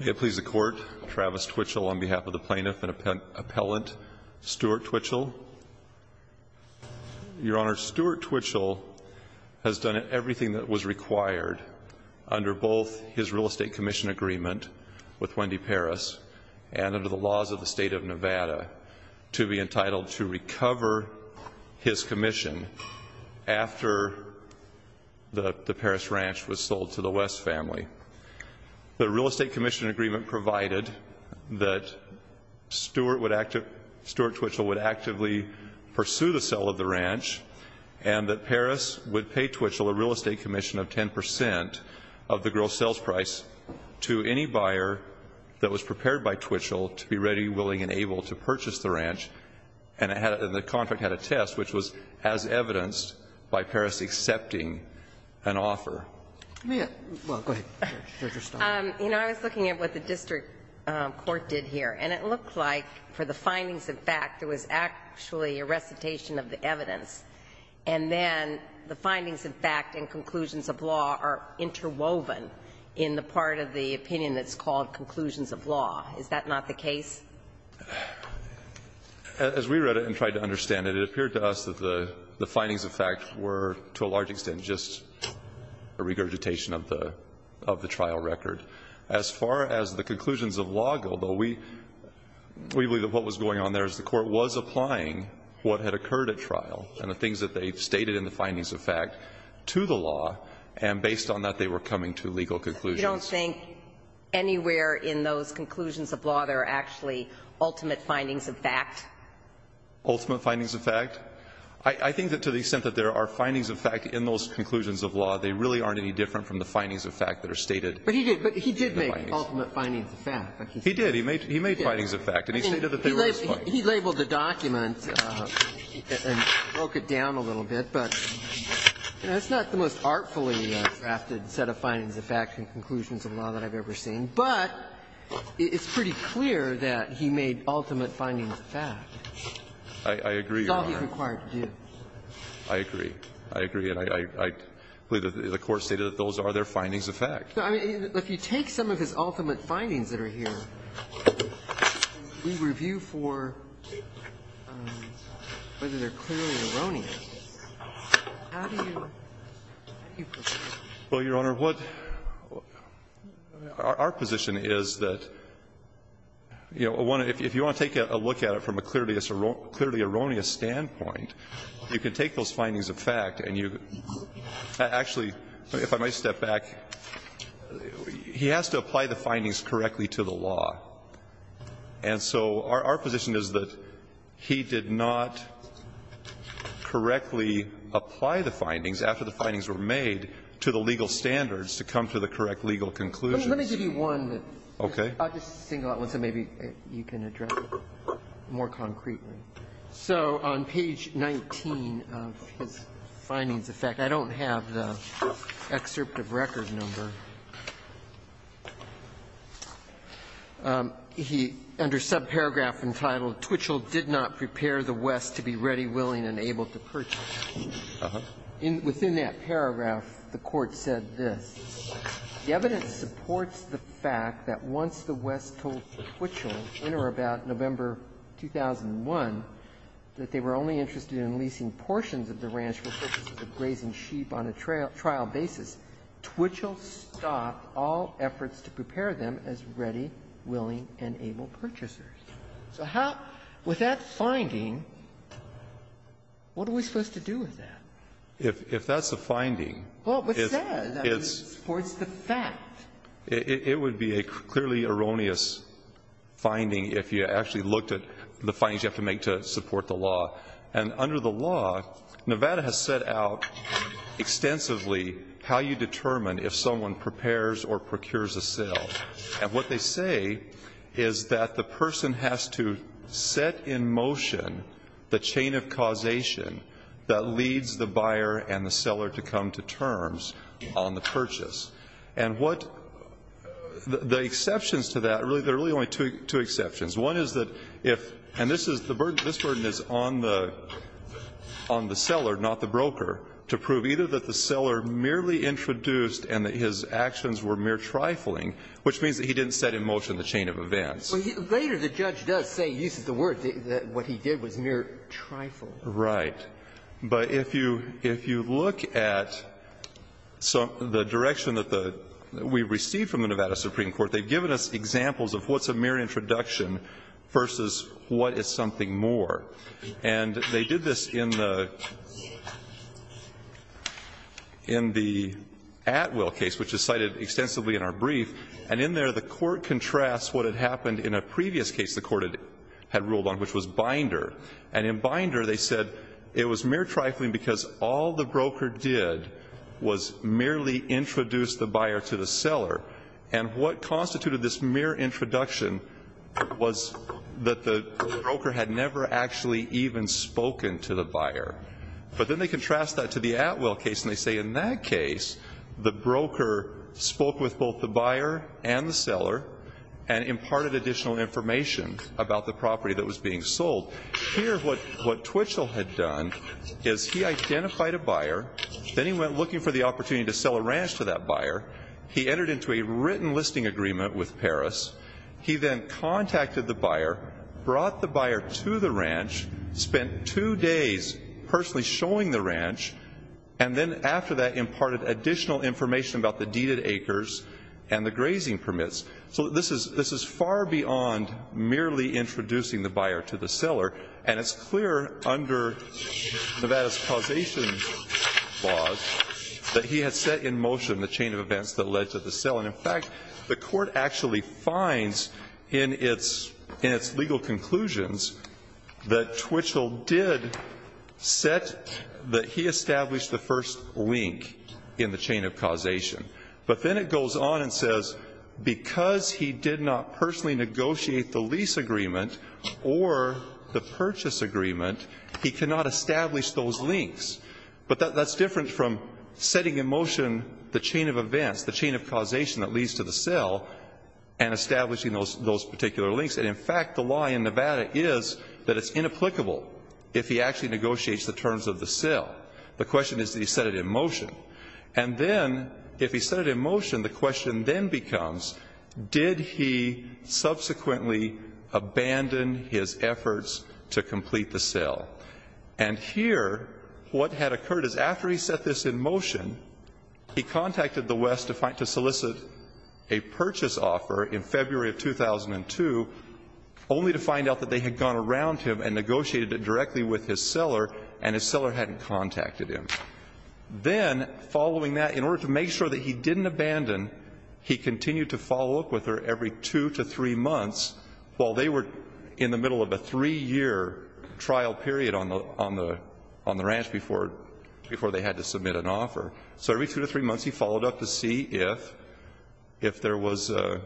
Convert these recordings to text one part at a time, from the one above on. May it please the Court, Travis Twitchell on behalf of the Plaintiff and Appellant, Stuart Twitchell. Your Honor, Stuart Twitchell has done everything that was required under both his real estate commission agreement with Wendy Paris and under the laws of the State of Nevada to be entitled to recover his commission after the Paris Ranch was sold to the West family. The real estate commission agreement provided that Stuart Twitchell would actively pursue the sale of the ranch and that Paris would pay Twitchell a real estate commission of 10 percent of the gross sales price to any buyer that was prepared by Twitchell to be ready, willing and able to purchase the ranch and the contract had a test which was as evidenced by Paris accepting an offer. Sotomayor, well, go ahead. You know, I was looking at what the district court did here. And it looked like for the findings of fact, it was actually a recitation of the evidence. And then the findings of fact and conclusions of law are interwoven in the part of the opinion that's called conclusions of law. Is that not the case? As we read it and tried to understand it, it appeared to us that the findings of fact were to a large extent just a regurgitation of the trial record. As far as the conclusions of law go, though, we believe that what was going on there is the court was applying what had occurred at trial and the things that they stated in the findings of fact to the law, and based on that, they were coming to legal conclusions. You don't think anywhere in those conclusions of law there are actually ultimate findings of fact? Ultimate findings of fact? I think that to the extent that there are findings of fact in those conclusions of law, they really aren't any different from the findings of fact that are stated in the findings. But he did make ultimate findings of fact. He did. He made findings of fact. And he stated that they were his findings. He labeled the document and broke it down a little bit, but it's not the most artfully drafted set of findings of fact and conclusions of law that I've ever seen. But it's pretty clear that he made ultimate findings of fact. I agree, Your Honor. That's all he's required to do. I agree. I agree. And I believe that the Court stated that those are their findings of fact. No, I mean, if you take some of his ultimate findings that are here and we review for whether they're clearly erroneous, how do you, how do you proceed? Well, Your Honor, what our position is that, you know, if you want to take a look at it from a clearly erroneous standpoint, you can take those findings of fact and you actually, if I might step back, he has to apply the findings correctly to the law. And so our position is that he did not correctly apply the findings, after the findings were made, to the legal standards to come to the correct legal conclusions. Let me give you one. Okay. I'll just single out one so maybe you can address it. More concretely. So on page 19 of his findings of fact, I don't have the excerpt of record number. He, under subparagraph entitled, "'Twitchell did not prepare the West to be ready, willing, and able to purchase.'" Uh-huh. Within that paragraph, the Court said this. "'The evidence supports the fact that once the West told Twitchell, in or about November 2001, that they were only interested in leasing portions of the ranch for purposes of grazing sheep on a trial basis, Twitchell stopped all efforts to prepare them as ready, willing, and able purchasers.'" So how, with that finding, what are we supposed to do with that? If that's the finding, it's It would be a clearly erroneous finding if you actually looked at the findings you have to make to support the law. And under the law, Nevada has set out extensively how you determine if someone prepares or procures a sale. And what they say is that the person has to set in motion the chain of causation that leads the buyer and the seller to come to terms on the purchase. And what the exceptions to that, there are really only two exceptions. One is that if, and this is the burden, this burden is on the seller, not the broker, to prove either that the seller merely introduced and that his actions were mere trifling, which means that he didn't set in motion the chain of events. Well, later the judge does say, uses the word, that what he did was mere trifling. Right. But if you look at the direction that we received from the Nevada Supreme Court, they've given us examples of what's a mere introduction versus what is something more. And they did this in the Atwell case, which is cited extensively in our brief, and in there the Court contrasts what had happened in a previous case the Court had ruled on, which was Binder. And in Binder they said it was mere trifling because all the broker did was merely introduce the buyer to the seller. And what constituted this mere introduction was that the broker had never actually even spoken to the buyer. But then they contrast that to the Atwell case and they say in that case the broker spoke with both the buyer and the seller and imparted additional information about the property that was being sold. Here what Twitchell had done is he identified a buyer, then he went looking for the opportunity to sell a ranch to that buyer. He entered into a written listing agreement with Paris. He then contacted the buyer, brought the buyer to the ranch, spent two days personally showing the ranch, and then after that imparted additional information about the deeded acres and the grazing permits. So this is far beyond merely introducing the buyer to the seller. And it's clear under Nevada's causation laws that he had set in motion the chain of events that led to the sale. And, in fact, the Court actually finds in its legal conclusions that Twitchell did set that he established the first link in the chain of causation. But then it goes on and says because he did not personally negotiate the lease agreement or the purchase agreement, he cannot establish those links. But that's different from setting in motion the chain of events, the chain of causation that leads to the sale, and establishing those particular links. And, in fact, the law in Nevada is that it's inapplicable if he actually negotiates the terms of the sale. The question is that he set it in motion. And then if he set it in motion, the question then becomes, did he subsequently abandon his efforts to complete the sale? And here what had occurred is after he set this in motion, he contacted the West to solicit a purchase offer in February of 2002 only to find out that they had gone around him and negotiated it directly with his seller, and his seller hadn't contacted him. Then, following that, in order to make sure that he didn't abandon, he continued to follow up with her every two to three months while they were in the middle of a three-year trial period on the ranch before they had to submit an offer. So every two to three months he followed up to see if there was a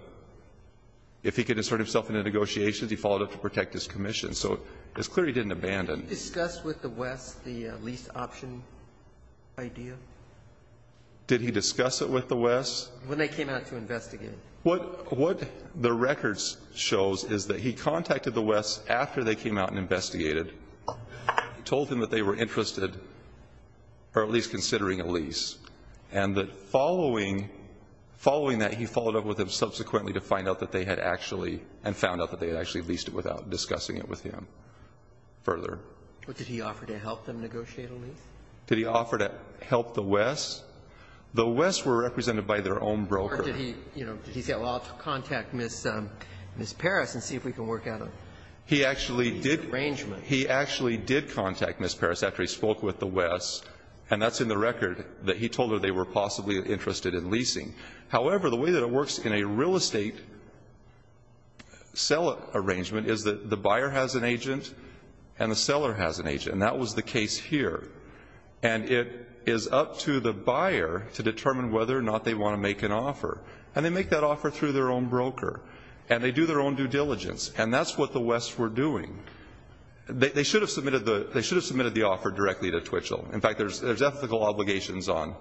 – if he could insert himself into negotiations, he followed up to protect his commission. So it's clear he didn't abandon. Did he discuss with the West the lease option idea? Did he discuss it with the West? When they came out to investigate. What the records shows is that he contacted the West after they came out and investigated, told them that they were interested, or at least considering a lease. And that following that, he followed up with them subsequently to find out that they had actually – and found out that they had actually leased it without discussing it with him further. But did he offer to help them negotiate a lease? Did he offer to help the West? The West were represented by their own broker. Or did he say, well, I'll contact Ms. Parris and see if we can work out an arrangement? He actually did – he actually did contact Ms. Parris after he spoke with the West. And that's in the record that he told her they were possibly interested in leasing. However, the way that it works in a real estate seller arrangement is that the buyer has an agent and the seller has an agent. And that was the case here. And it is up to the buyer to determine whether or not they want to make an offer. And they make that offer through their own broker. And they do their own due diligence. And that's what the West were doing. They should have submitted the – they should have submitted the offer directly to Twitchell. In fact, there's ethical obligations on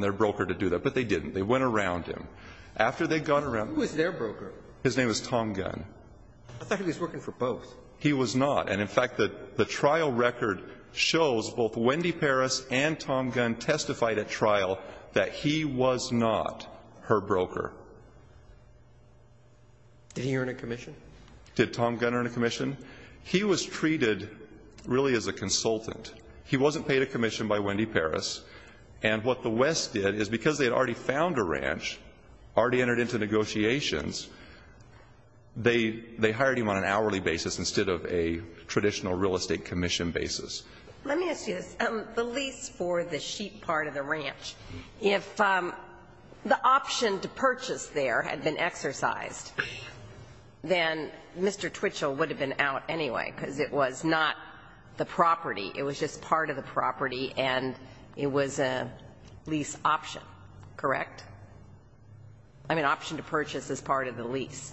their broker to do that. But they didn't. They went around him. After they'd gone around him. Who was their broker? His name was Tom Gunn. I thought he was working for both. He was not. And in fact, the trial record shows both Wendy Parris and Tom Gunn testified at trial that he was not her broker. Did he earn a commission? Did Tom Gunn earn a commission? He was treated, really, as a consultant. He wasn't paid a commission by Wendy Parris. And what the West did is because they had already found a ranch, already entered into negotiations, they hired him on an hourly basis instead of a traditional real estate commission basis. The lease for the sheet part of the ranch, if the option to purchase there had been exercised, then Mr. Twitchell would have been out anyway, because it was not the property. It was just part of the property, and it was a lease option. Correct? I mean, option to purchase is part of the lease.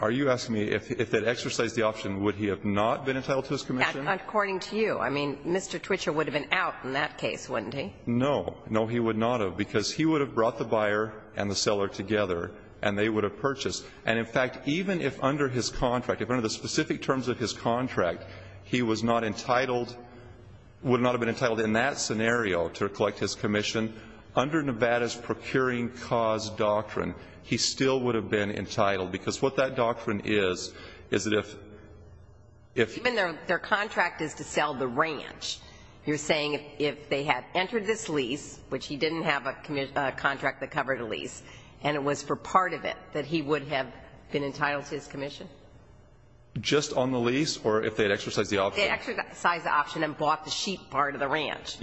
Are you asking me if they'd exercised the option, would he have not been entitled to his commission? According to you. I mean, Mr. Twitchell would have been out in that case, wouldn't he? No. No, he would not have, because he would have brought the buyer and the seller together, and they would have purchased. And, in fact, even if under his contract, if under the specific terms of his contract he was not entitled, would not have been entitled in that scenario to collect his commission, under Nevada's procuring cause doctrine, he still would have been entitled. Because what that doctrine is, is that if... Even their contract is to sell the ranch. You're saying if they had entered this lease, which he didn't have a contract that covered a lease, and it was for part of it that he would have been entitled to his commission? Just on the lease, or if they'd exercised the option. They'd exercised the option and bought the sheep part of the ranch.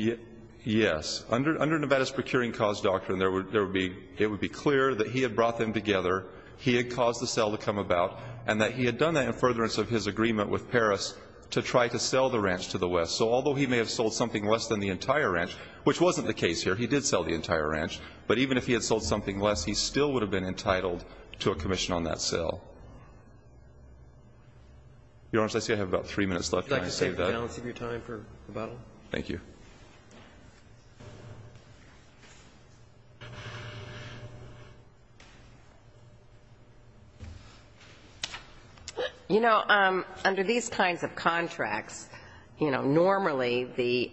Yes. Under Nevada's procuring cause doctrine, it would be clear that he had brought them together, he had caused the sale to come about, and that he had done that in furtherance of his agreement with Paris to try to sell the ranch to the West. So although he may have sold something less than the entire ranch, which wasn't the case here, he did sell the entire ranch, but even if he had sold something less, he still would have been entitled to a commission on that sale. Your Honor, I see I have about three minutes left. Can I save that? Would you like to save the balance of your time for rebuttal? Thank you. Thank you. You know, under these kinds of contracts, you know, normally the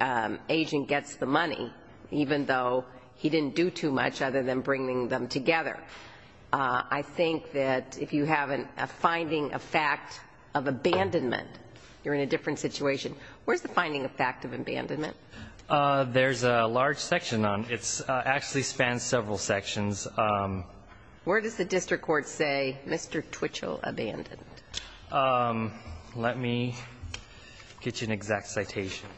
agent gets the money, even though he didn't do too much other than bringing them together. I think that if you have a finding of fact of abandonment, you're in a different situation. Where's the finding of fact of abandonment? There's a large section on it. It actually spans several sections. Where does the district court say Mr. Twitchell abandoned? Let me get you an exact citation.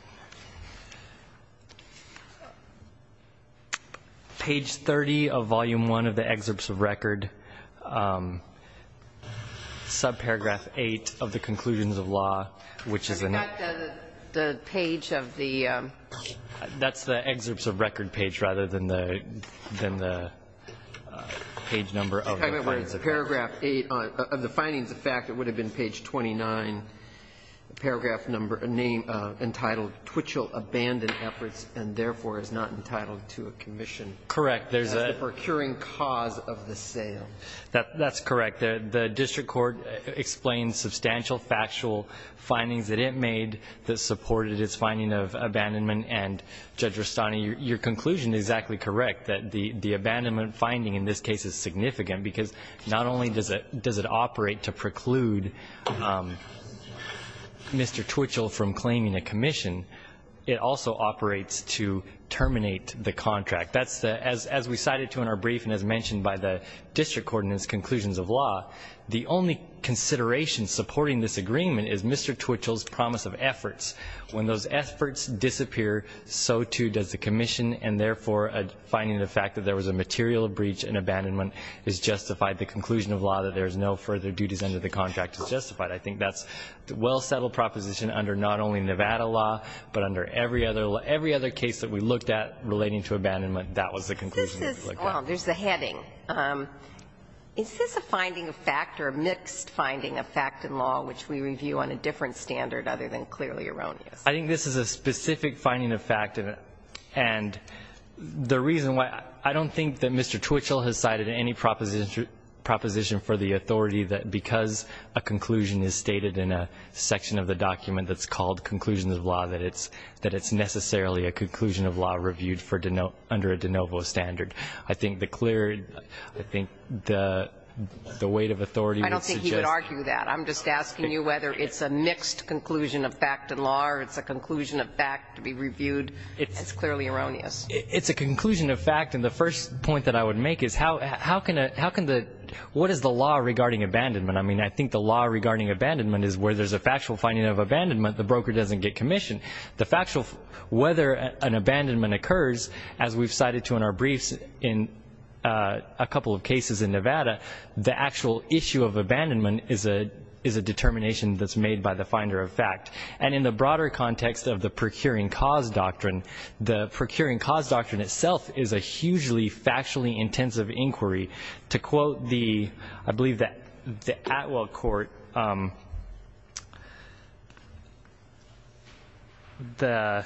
Page 30 of Volume I of the Excerpts of Record, subparagraph 8 of the Conclusions of Law, which is in it. Is that the page of the? That's the Excerpts of Record page rather than the page number of the findings. Paragraph 8 of the findings of fact, it would have been page 29, paragraph number entitled Twitchell abandoned efforts and therefore is not entitled to a commission. Correct. The procuring cause of the sale. That's correct. The district court explains substantial factual findings that it made that supported its finding of abandonment. And Judge Rustani, your conclusion is exactly correct, that the abandonment finding in this case is significant because not only does it operate to preclude Mr. Twitchell from claiming a commission, it also operates to terminate the contract. As we cited to in our brief and as mentioned by the district court in its conclusions of law, the only consideration supporting this agreement is Mr. Twitchell's promise of efforts. When those efforts disappear, so too does the commission, and therefore finding the fact that there was a material breach in abandonment is justified. The conclusion of law that there is no further duties under the contract is justified. I think that's a well-settled proposition under not only Nevada law, but under every other case that we looked at relating to abandonment, that was the conclusion that we looked at. Well, there's the heading. Is this a finding of fact or a mixed finding of fact in law, which we review on a different standard other than clearly erroneous? I think this is a specific finding of fact, and the reason why I don't think that Mr. Twitchell has cited any proposition for the authority that because a conclusion is stated in a section of the document that's called conclusions of law, that it's necessarily a conclusion of law reviewed under a de novo standard. I think the clear, I think the weight of authority would suggest. I don't think he would argue that. I'm just asking you whether it's a mixed conclusion of fact in law or it's a conclusion of fact to be reviewed. It's clearly erroneous. It's a conclusion of fact, and the first point that I would make is how can the, what is the law regarding abandonment? I mean, I think the law regarding abandonment is where there's a factual finding of abandonment, the broker doesn't get commission. The factual, whether an abandonment occurs, as we've cited to in our briefs in a couple of cases in Nevada, the actual issue of abandonment is a determination that's made by the finder of fact. And in the broader context of the procuring cause doctrine, the procuring cause doctrine itself is a hugely factually intensive inquiry. To quote the, I believe the Atwell court, the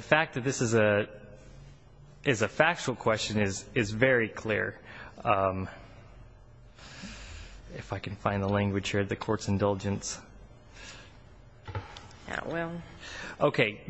fact that this is a factual question is very clear. If I can find the language here, the court's indulgence. Atwell. Okay.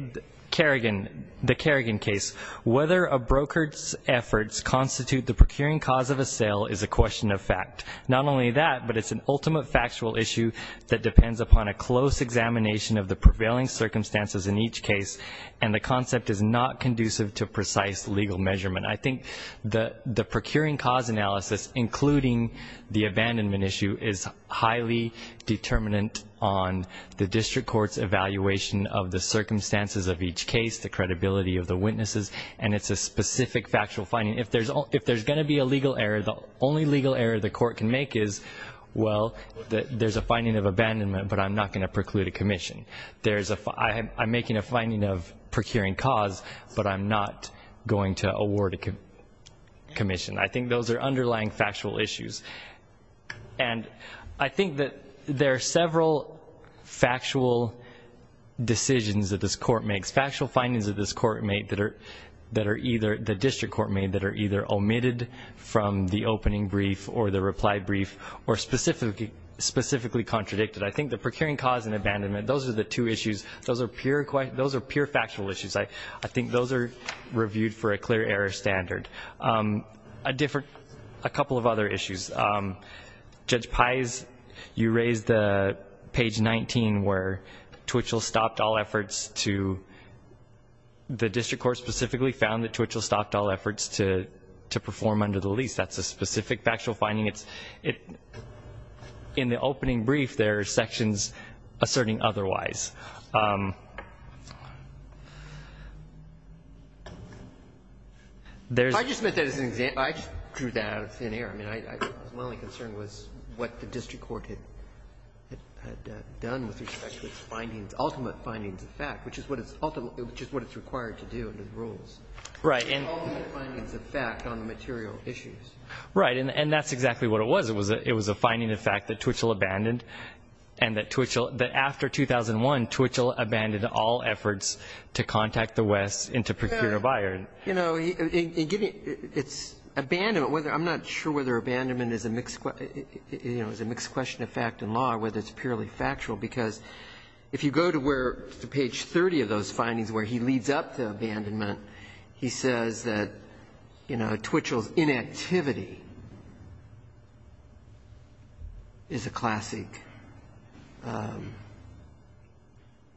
Kerrigan, the Kerrigan case. Whether a broker's efforts constitute the procuring cause of a sale is a question of fact. Not only that, but it's an ultimate factual issue that depends upon a close examination of the prevailing circumstances in each case, and the concept is not conducive to precise legal measurement. I think the procuring cause analysis, including the abandonment issue, is highly determinant on the district court's evaluation of the circumstances of each case, the credibility of the witnesses, and it's a specific factual finding. If there's going to be a legal error, the only legal error the court can make is, well, there's a finding of abandonment, but I'm not going to preclude a commission. I'm making a finding of procuring cause, but I'm not going to award a commission. I think those are underlying factual issues. And I think that there are several factual decisions that this court makes. There's factual findings that this court made that are either the district court made that are either omitted from the opening brief or the reply brief or specifically contradicted. I think the procuring cause and abandonment, those are the two issues. Those are pure factual issues. I think those are reviewed for a clear error standard. A couple of other issues. Judge Pais, you raised the page 19 where Twitchell stopped all efforts to the district court specifically found that Twitchell stopped all efforts to perform under the lease. That's a specific factual finding. In the opening brief, there are sections asserting otherwise. I just meant that as an example. I just drew that out of thin air. My only concern was what the district court had done with respect to its findings, ultimate findings of fact, which is what it's required to do under the rules. Right. Ultimate findings of fact on the material issues. Right. And that's exactly what it was. It was a finding of fact that Twitchell abandoned and that after 2001, Twitchell abandoned all efforts to contact the West and to procure a buyer. You know, it's abandonment. I'm not sure whether abandonment is a mixed question of fact and law or whether it's purely factual because if you go to page 30 of those findings where he leads up to abandonment, he says that, you know, Twitchell's inactivity is a classic.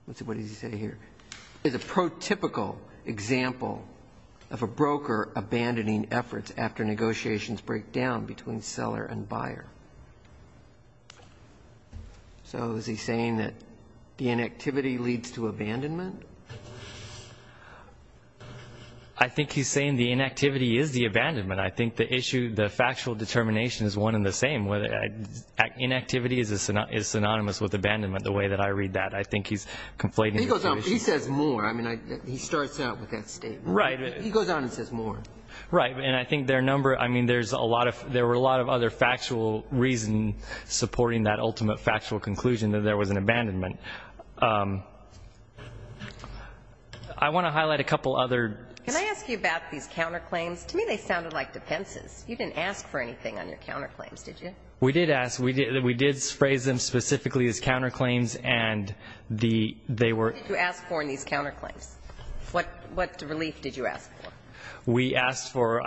What does he say here? Is a prototypical example of a broker abandoning efforts after negotiations break down between seller and buyer. So is he saying that the inactivity leads to abandonment? I think he's saying the inactivity is the abandonment. I think the issue, the factual determination is one and the same. Inactivity is synonymous with abandonment the way that I read that. I think he's conflating the two issues. He says more. I mean, he starts out with that statement. Right. He goes on and says more. Right. And I think there are a lot of other factual reasons supporting that ultimate factual conclusion that there was an abandonment. I want to highlight a couple other. Can I ask you about these counterclaims? To me they sounded like defenses. You didn't ask for anything on your counterclaims, did you? We did ask. We did phrase them specifically as counterclaims and they were. What did you ask for in these counterclaims? What relief did you ask for? We asked for,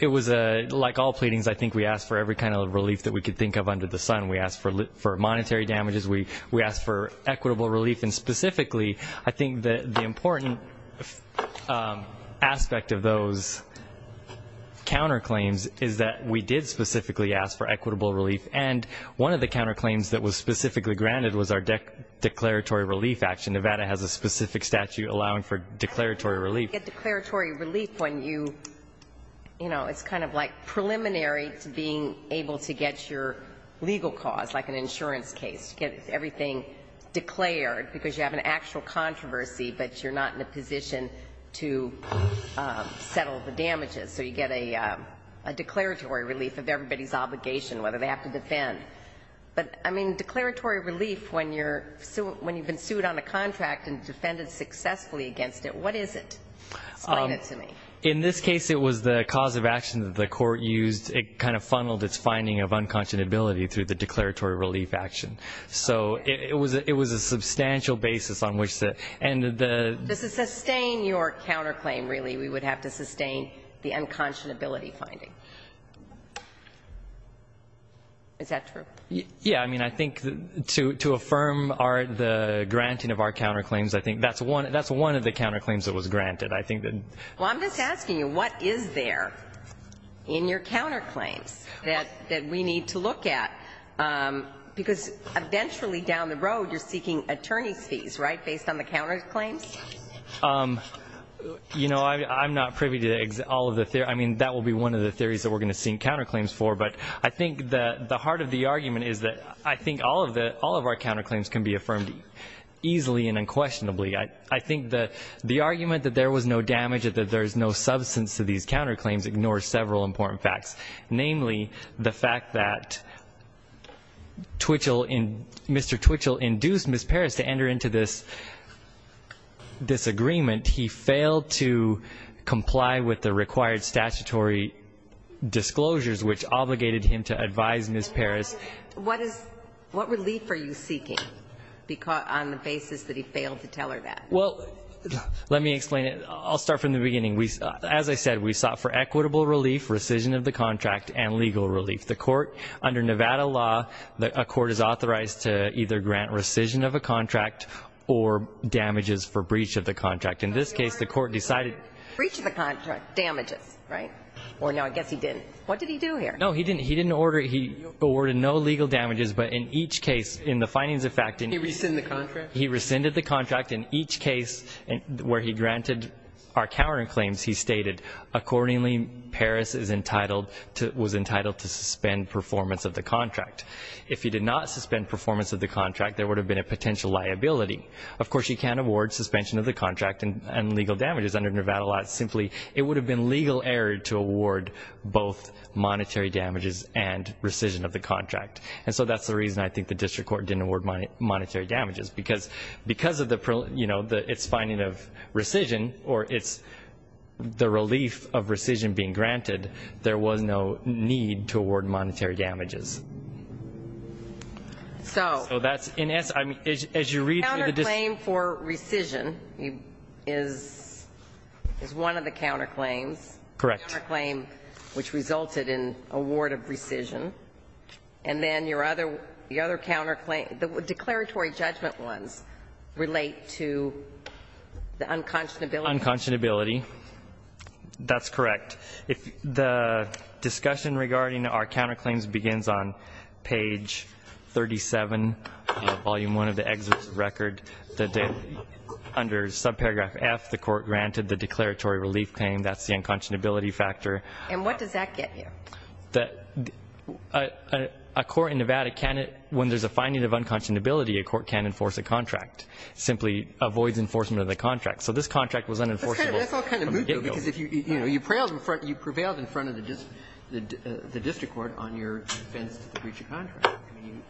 it was, like all pleadings, I think we asked for every kind of relief that we could think of under the sun. We asked for monetary damages. We asked for equitable relief. And specifically, I think the important aspect of those counterclaims is that we did specifically ask for equitable relief. And one of the counterclaims that was specifically granted was our declaratory relief action. Nevada has a specific statute allowing for declaratory relief. You get declaratory relief when you, you know, it's kind of like preliminary to being able to get your legal cause, like an insurance case. You get everything declared because you have an actual controversy but you're not in a position to settle the damages. So you get a declaratory relief of everybody's obligation, whether they have to defend. But, I mean, declaratory relief when you're, when you've been sued on a contract and defended successfully against it, what is it? Explain it to me. In this case, it was the cause of action that the court used. It kind of funneled its finding of unconscionability through the declaratory relief action. So it was a substantial basis on which the, and the. To sustain your counterclaim, really, we would have to sustain the unconscionability finding. Is that true? Yeah. I mean, I think to affirm our, the granting of our counterclaims, I think that's one, that's one of the counterclaims that was granted. I think that. Well, I'm just asking you, what is there in your counterclaims that we need to look at? Because eventually down the road you're seeking attorney's fees, right, based on the counterclaims? You know, I'm not privy to all of the, I mean, that will be one of the theories that we're going to seek counterclaims for. But I think that the heart of the argument is that I think all of the, all of our counterclaims can be affirmed easily and unquestionably. I think that the argument that there was no damage, that there's no substance to these counterclaims ignores several important facts. Namely, the fact that Twitchell, Mr. Twitchell induced Ms. Parris to enter into this disagreement. He failed to comply with the required statutory disclosures, which obligated him to advise Ms. Parris. What is, what relief are you seeking on the basis that he failed to tell her that? Well, let me explain it. I'll start from the beginning. As I said, we sought for equitable relief, rescission of the contract, and legal relief. The court, under Nevada law, a court is authorized to either grant rescission of a contract or damages for breach of the contract. In this case, the court decided. Breach of the contract, damages, right? Well, no, I guess he didn't. What did he do here? No, he didn't. He didn't order, he ordered no legal damages. But in each case, in the findings of fact. He rescinded the contract? He rescinded the contract. In each case where he granted our cowering claims, he stated, accordingly, Parris is entitled to, was entitled to suspend performance of the contract. If he did not suspend performance of the contract, there would have been a potential liability. Of course, you can't award suspension of the contract and legal damages under Nevada law. Simply, it would have been legal error to award both monetary damages and rescission of the contract. And so that's the reason I think the district court didn't award monetary damages. Because of the, you know, it's finding of rescission or it's the relief of rescission being granted, there was no need to award monetary damages. So. So that's. As you read. Counterclaim for rescission is one of the counterclaims. Correct. The counterclaim which resulted in award of rescission. And then your other, the other counterclaim, the declaratory judgment ones relate to the unconscionability. Unconscionability. That's correct. If the discussion regarding our counterclaims begins on page 37, volume 1 of the exit record, under subparagraph F, the court granted the declaratory relief claim. That's the unconscionability factor. And what does that get you? A court in Nevada can't, when there's a finding of unconscionability, a court can't enforce a contract. Simply avoids enforcement of the contract. So this contract was unenforceable from the get-go. That's all kind of moot, though. Because if you, you know, you prevailed in front of the district court on your defense to the breach of contract.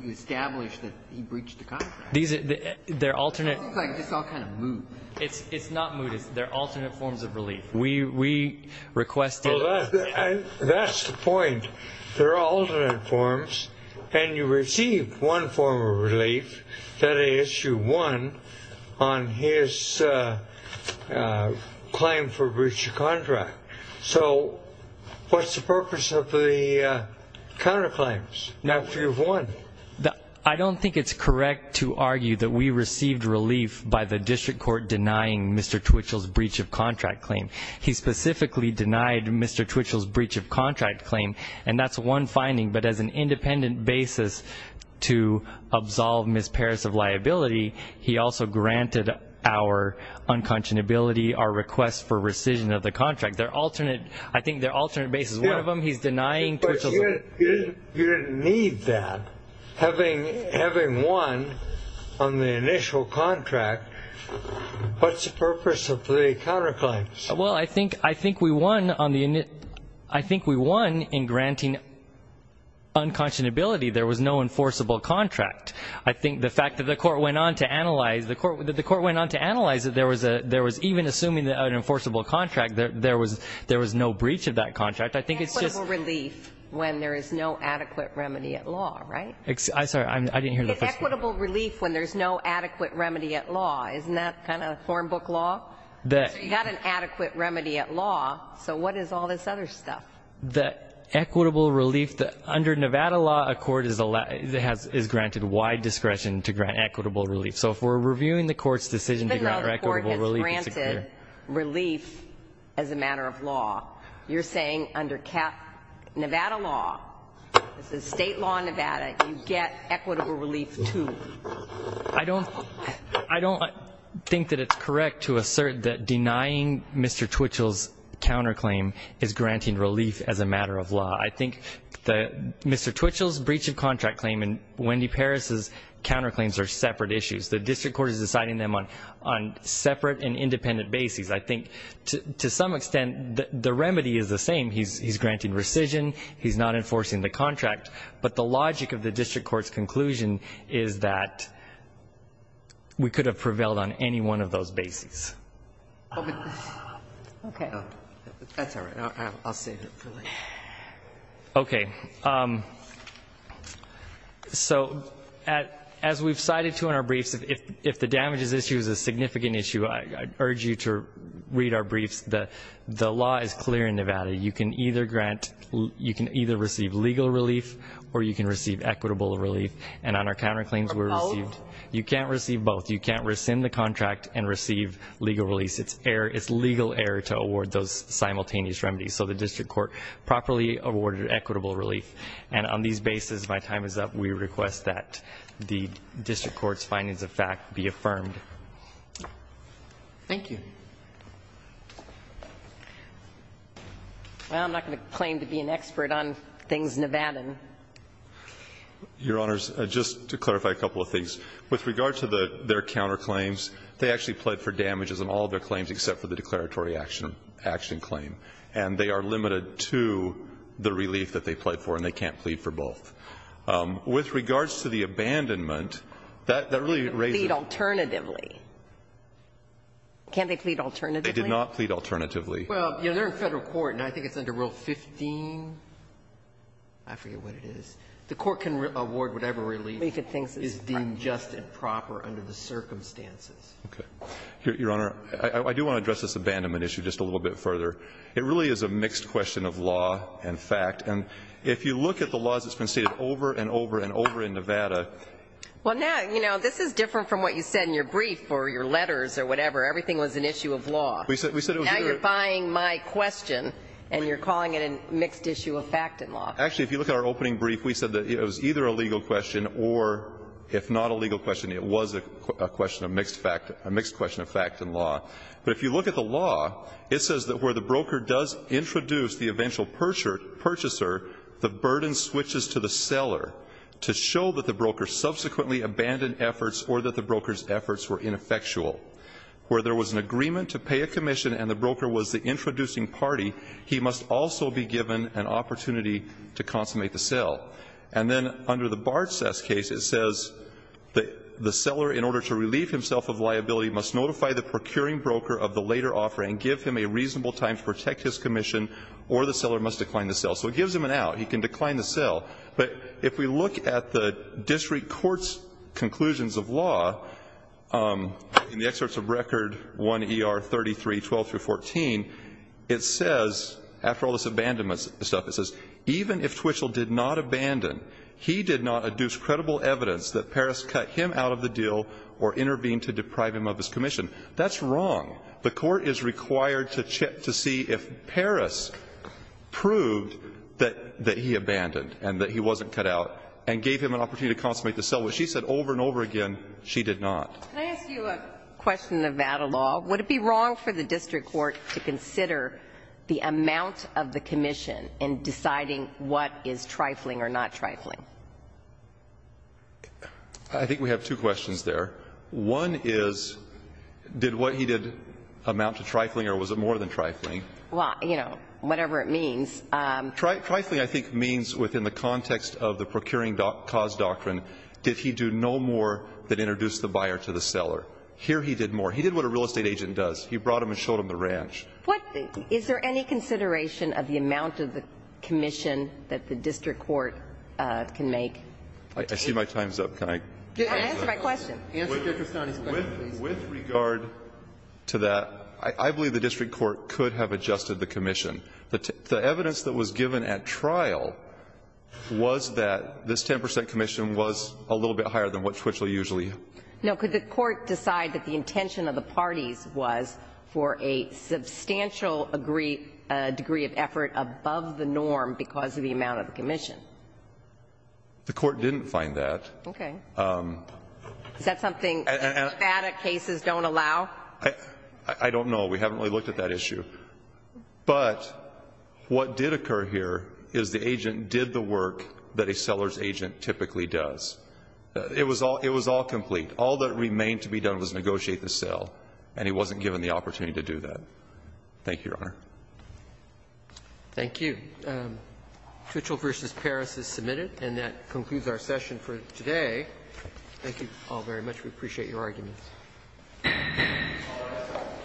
You established that he breached the contract. These, they're alternate. It seems like it's all kind of moot. It's not moot. They're alternate forms of relief. We requested. That's the point. They're alternate forms. And you received one form of relief, that issue 1, on his claim for breach of contract. So what's the purpose of the counterclaims? Now if you've won. I don't think it's correct to argue that we received relief by the district court denying Mr. Twitchell's breach of contract claim. He specifically denied Mr. Twitchell's breach of contract claim. And that's one finding. But as an independent basis to absolve Ms. Parris of liability, he also granted our unconscionability, our request for rescission of the contract. They're alternate. I think they're alternate bases. One of them he's denying. But you didn't need that. Having won on the initial contract, what's the purpose of the counterclaims? Well, I think we won in granting unconscionability. There was no enforceable contract. I think the fact that the court went on to analyze it, there was even assuming an enforceable contract, there was no breach of that contract. It's equitable relief when there is no adequate remedy at law, right? I'm sorry. I didn't hear the first part. It's equitable relief when there's no adequate remedy at law. Isn't that kind of form book law? You've got an adequate remedy at law. So what is all this other stuff? The equitable relief under Nevada law, a court is granted wide discretion to grant equitable relief. So if we're reviewing the court's decision to grant equitable relief. The court is granted relief as a matter of law. You're saying under Nevada law, this is state law in Nevada, you get equitable relief too. I don't think that it's correct to assert that denying Mr. Twitchell's counterclaim is granting relief as a matter of law. I think Mr. Twitchell's breach of contract claim and Wendy Parris's counterclaims are separate issues. The district court is deciding them on separate and independent bases. I think to some extent the remedy is the same. He's granted rescission. He's not enforcing the contract. But the logic of the district court's conclusion is that we could have prevailed on any one of those bases. Okay. That's all right. I'll save it for later. Okay. So as we've cited to in our briefs, if the damages issue is a significant issue, I urge you to read our briefs. The law is clear in Nevada. You can either grant, you can either receive legal relief or you can receive equitable relief. And on our counterclaims, you can't receive both. You can't rescind the contract and receive legal relief. It's legal error to award those simultaneous remedies. So the district court properly awarded equitable relief. And on these bases, my time is up. We request that the district court's findings of fact be affirmed. Thank you. Well, I'm not going to claim to be an expert on things Nevadan. Your Honors, just to clarify a couple of things. With regard to their counterclaims, they actually pled for damages on all of their claims except for the declaratory action claim. And they are limited to the relief that they pled for, and they can't plead for both. With regards to the abandonment, that really raises the question. They plead alternatively. Can't they plead alternatively? They did not plead alternatively. Well, you know, they're in Federal court, and I think it's under Rule 15. I forget what it is. The court can award whatever relief is deemed just and proper under the circumstances. Okay. Your Honor, I do want to address this abandonment issue just a little bit further. It really is a mixed question of law and fact. And if you look at the laws that's been stated over and over and over in Nevada. Well, now, you know, this is different from what you said in your brief or your letters or whatever. Everything was an issue of law. Now you're buying my question, and you're calling it a mixed issue of fact and law. Actually, if you look at our opening brief, we said that it was either a legal question or, if not a legal question, it was a question of mixed fact, a mixed question of fact and law. But if you look at the law, it says that where the broker does introduce the eventual purchaser, the burden switches to the seller to show that the broker subsequently abandoned efforts or that the broker's efforts were ineffectual. Where there was an agreement to pay a commission and the broker was the introducing party, he must also be given an opportunity to consummate the sale. And then under the Bartces case, it says that the seller, in order to relieve himself of liability, must notify the procuring broker of the later offering, give him a reasonable time to protect his commission, or the seller must decline the sale. So it gives him an out. He can decline the sale. But if we look at the district court's conclusions of law, in the excerpts of Record 1 ER 33, 12 through 14, it says, after all this abandonment stuff, it says, even if he abandoned, he did not adduce credible evidence that Parris cut him out of the deal or intervened to deprive him of his commission. That's wrong. The Court is required to check to see if Parris proved that he abandoned and that he wasn't cut out and gave him an opportunity to consummate the sale. What she said over and over again, she did not. Can I ask you a question about a law? Would it be wrong for the district court to consider the amount of the commission in deciding what is trifling or not trifling? I think we have two questions there. One is, did what he did amount to trifling or was it more than trifling? Well, you know, whatever it means. Trifling, I think, means within the context of the procuring cause doctrine, did he do no more than introduce the buyer to the seller? Here he did more. He did what a real estate agent does. He brought him and showed him the ranch. Is there any consideration of the amount of the commission that the district court can make? I see my time is up. Can I answer my question? Answer Justice Sotomayor's question, please. With regard to that, I believe the district court could have adjusted the commission. The evidence that was given at trial was that this 10 percent commission was a little bit higher than what Twitchell usually had. No, could the court decide that the intention of the parties was for a substantial degree of effort above the norm because of the amount of the commission? The court didn't find that. Okay. Is that something that cases don't allow? I don't know. We haven't really looked at that issue. But what did occur here is the agent did the work that a seller's agent typically does. It was all complete. All that remained to be done was negotiate the sale. And he wasn't given the opportunity to do that. Thank you, Your Honor. Thank you. Twitchell v. Paris is submitted. And that concludes our session for today. Thank you all very much. We appreciate your arguments. Thank you.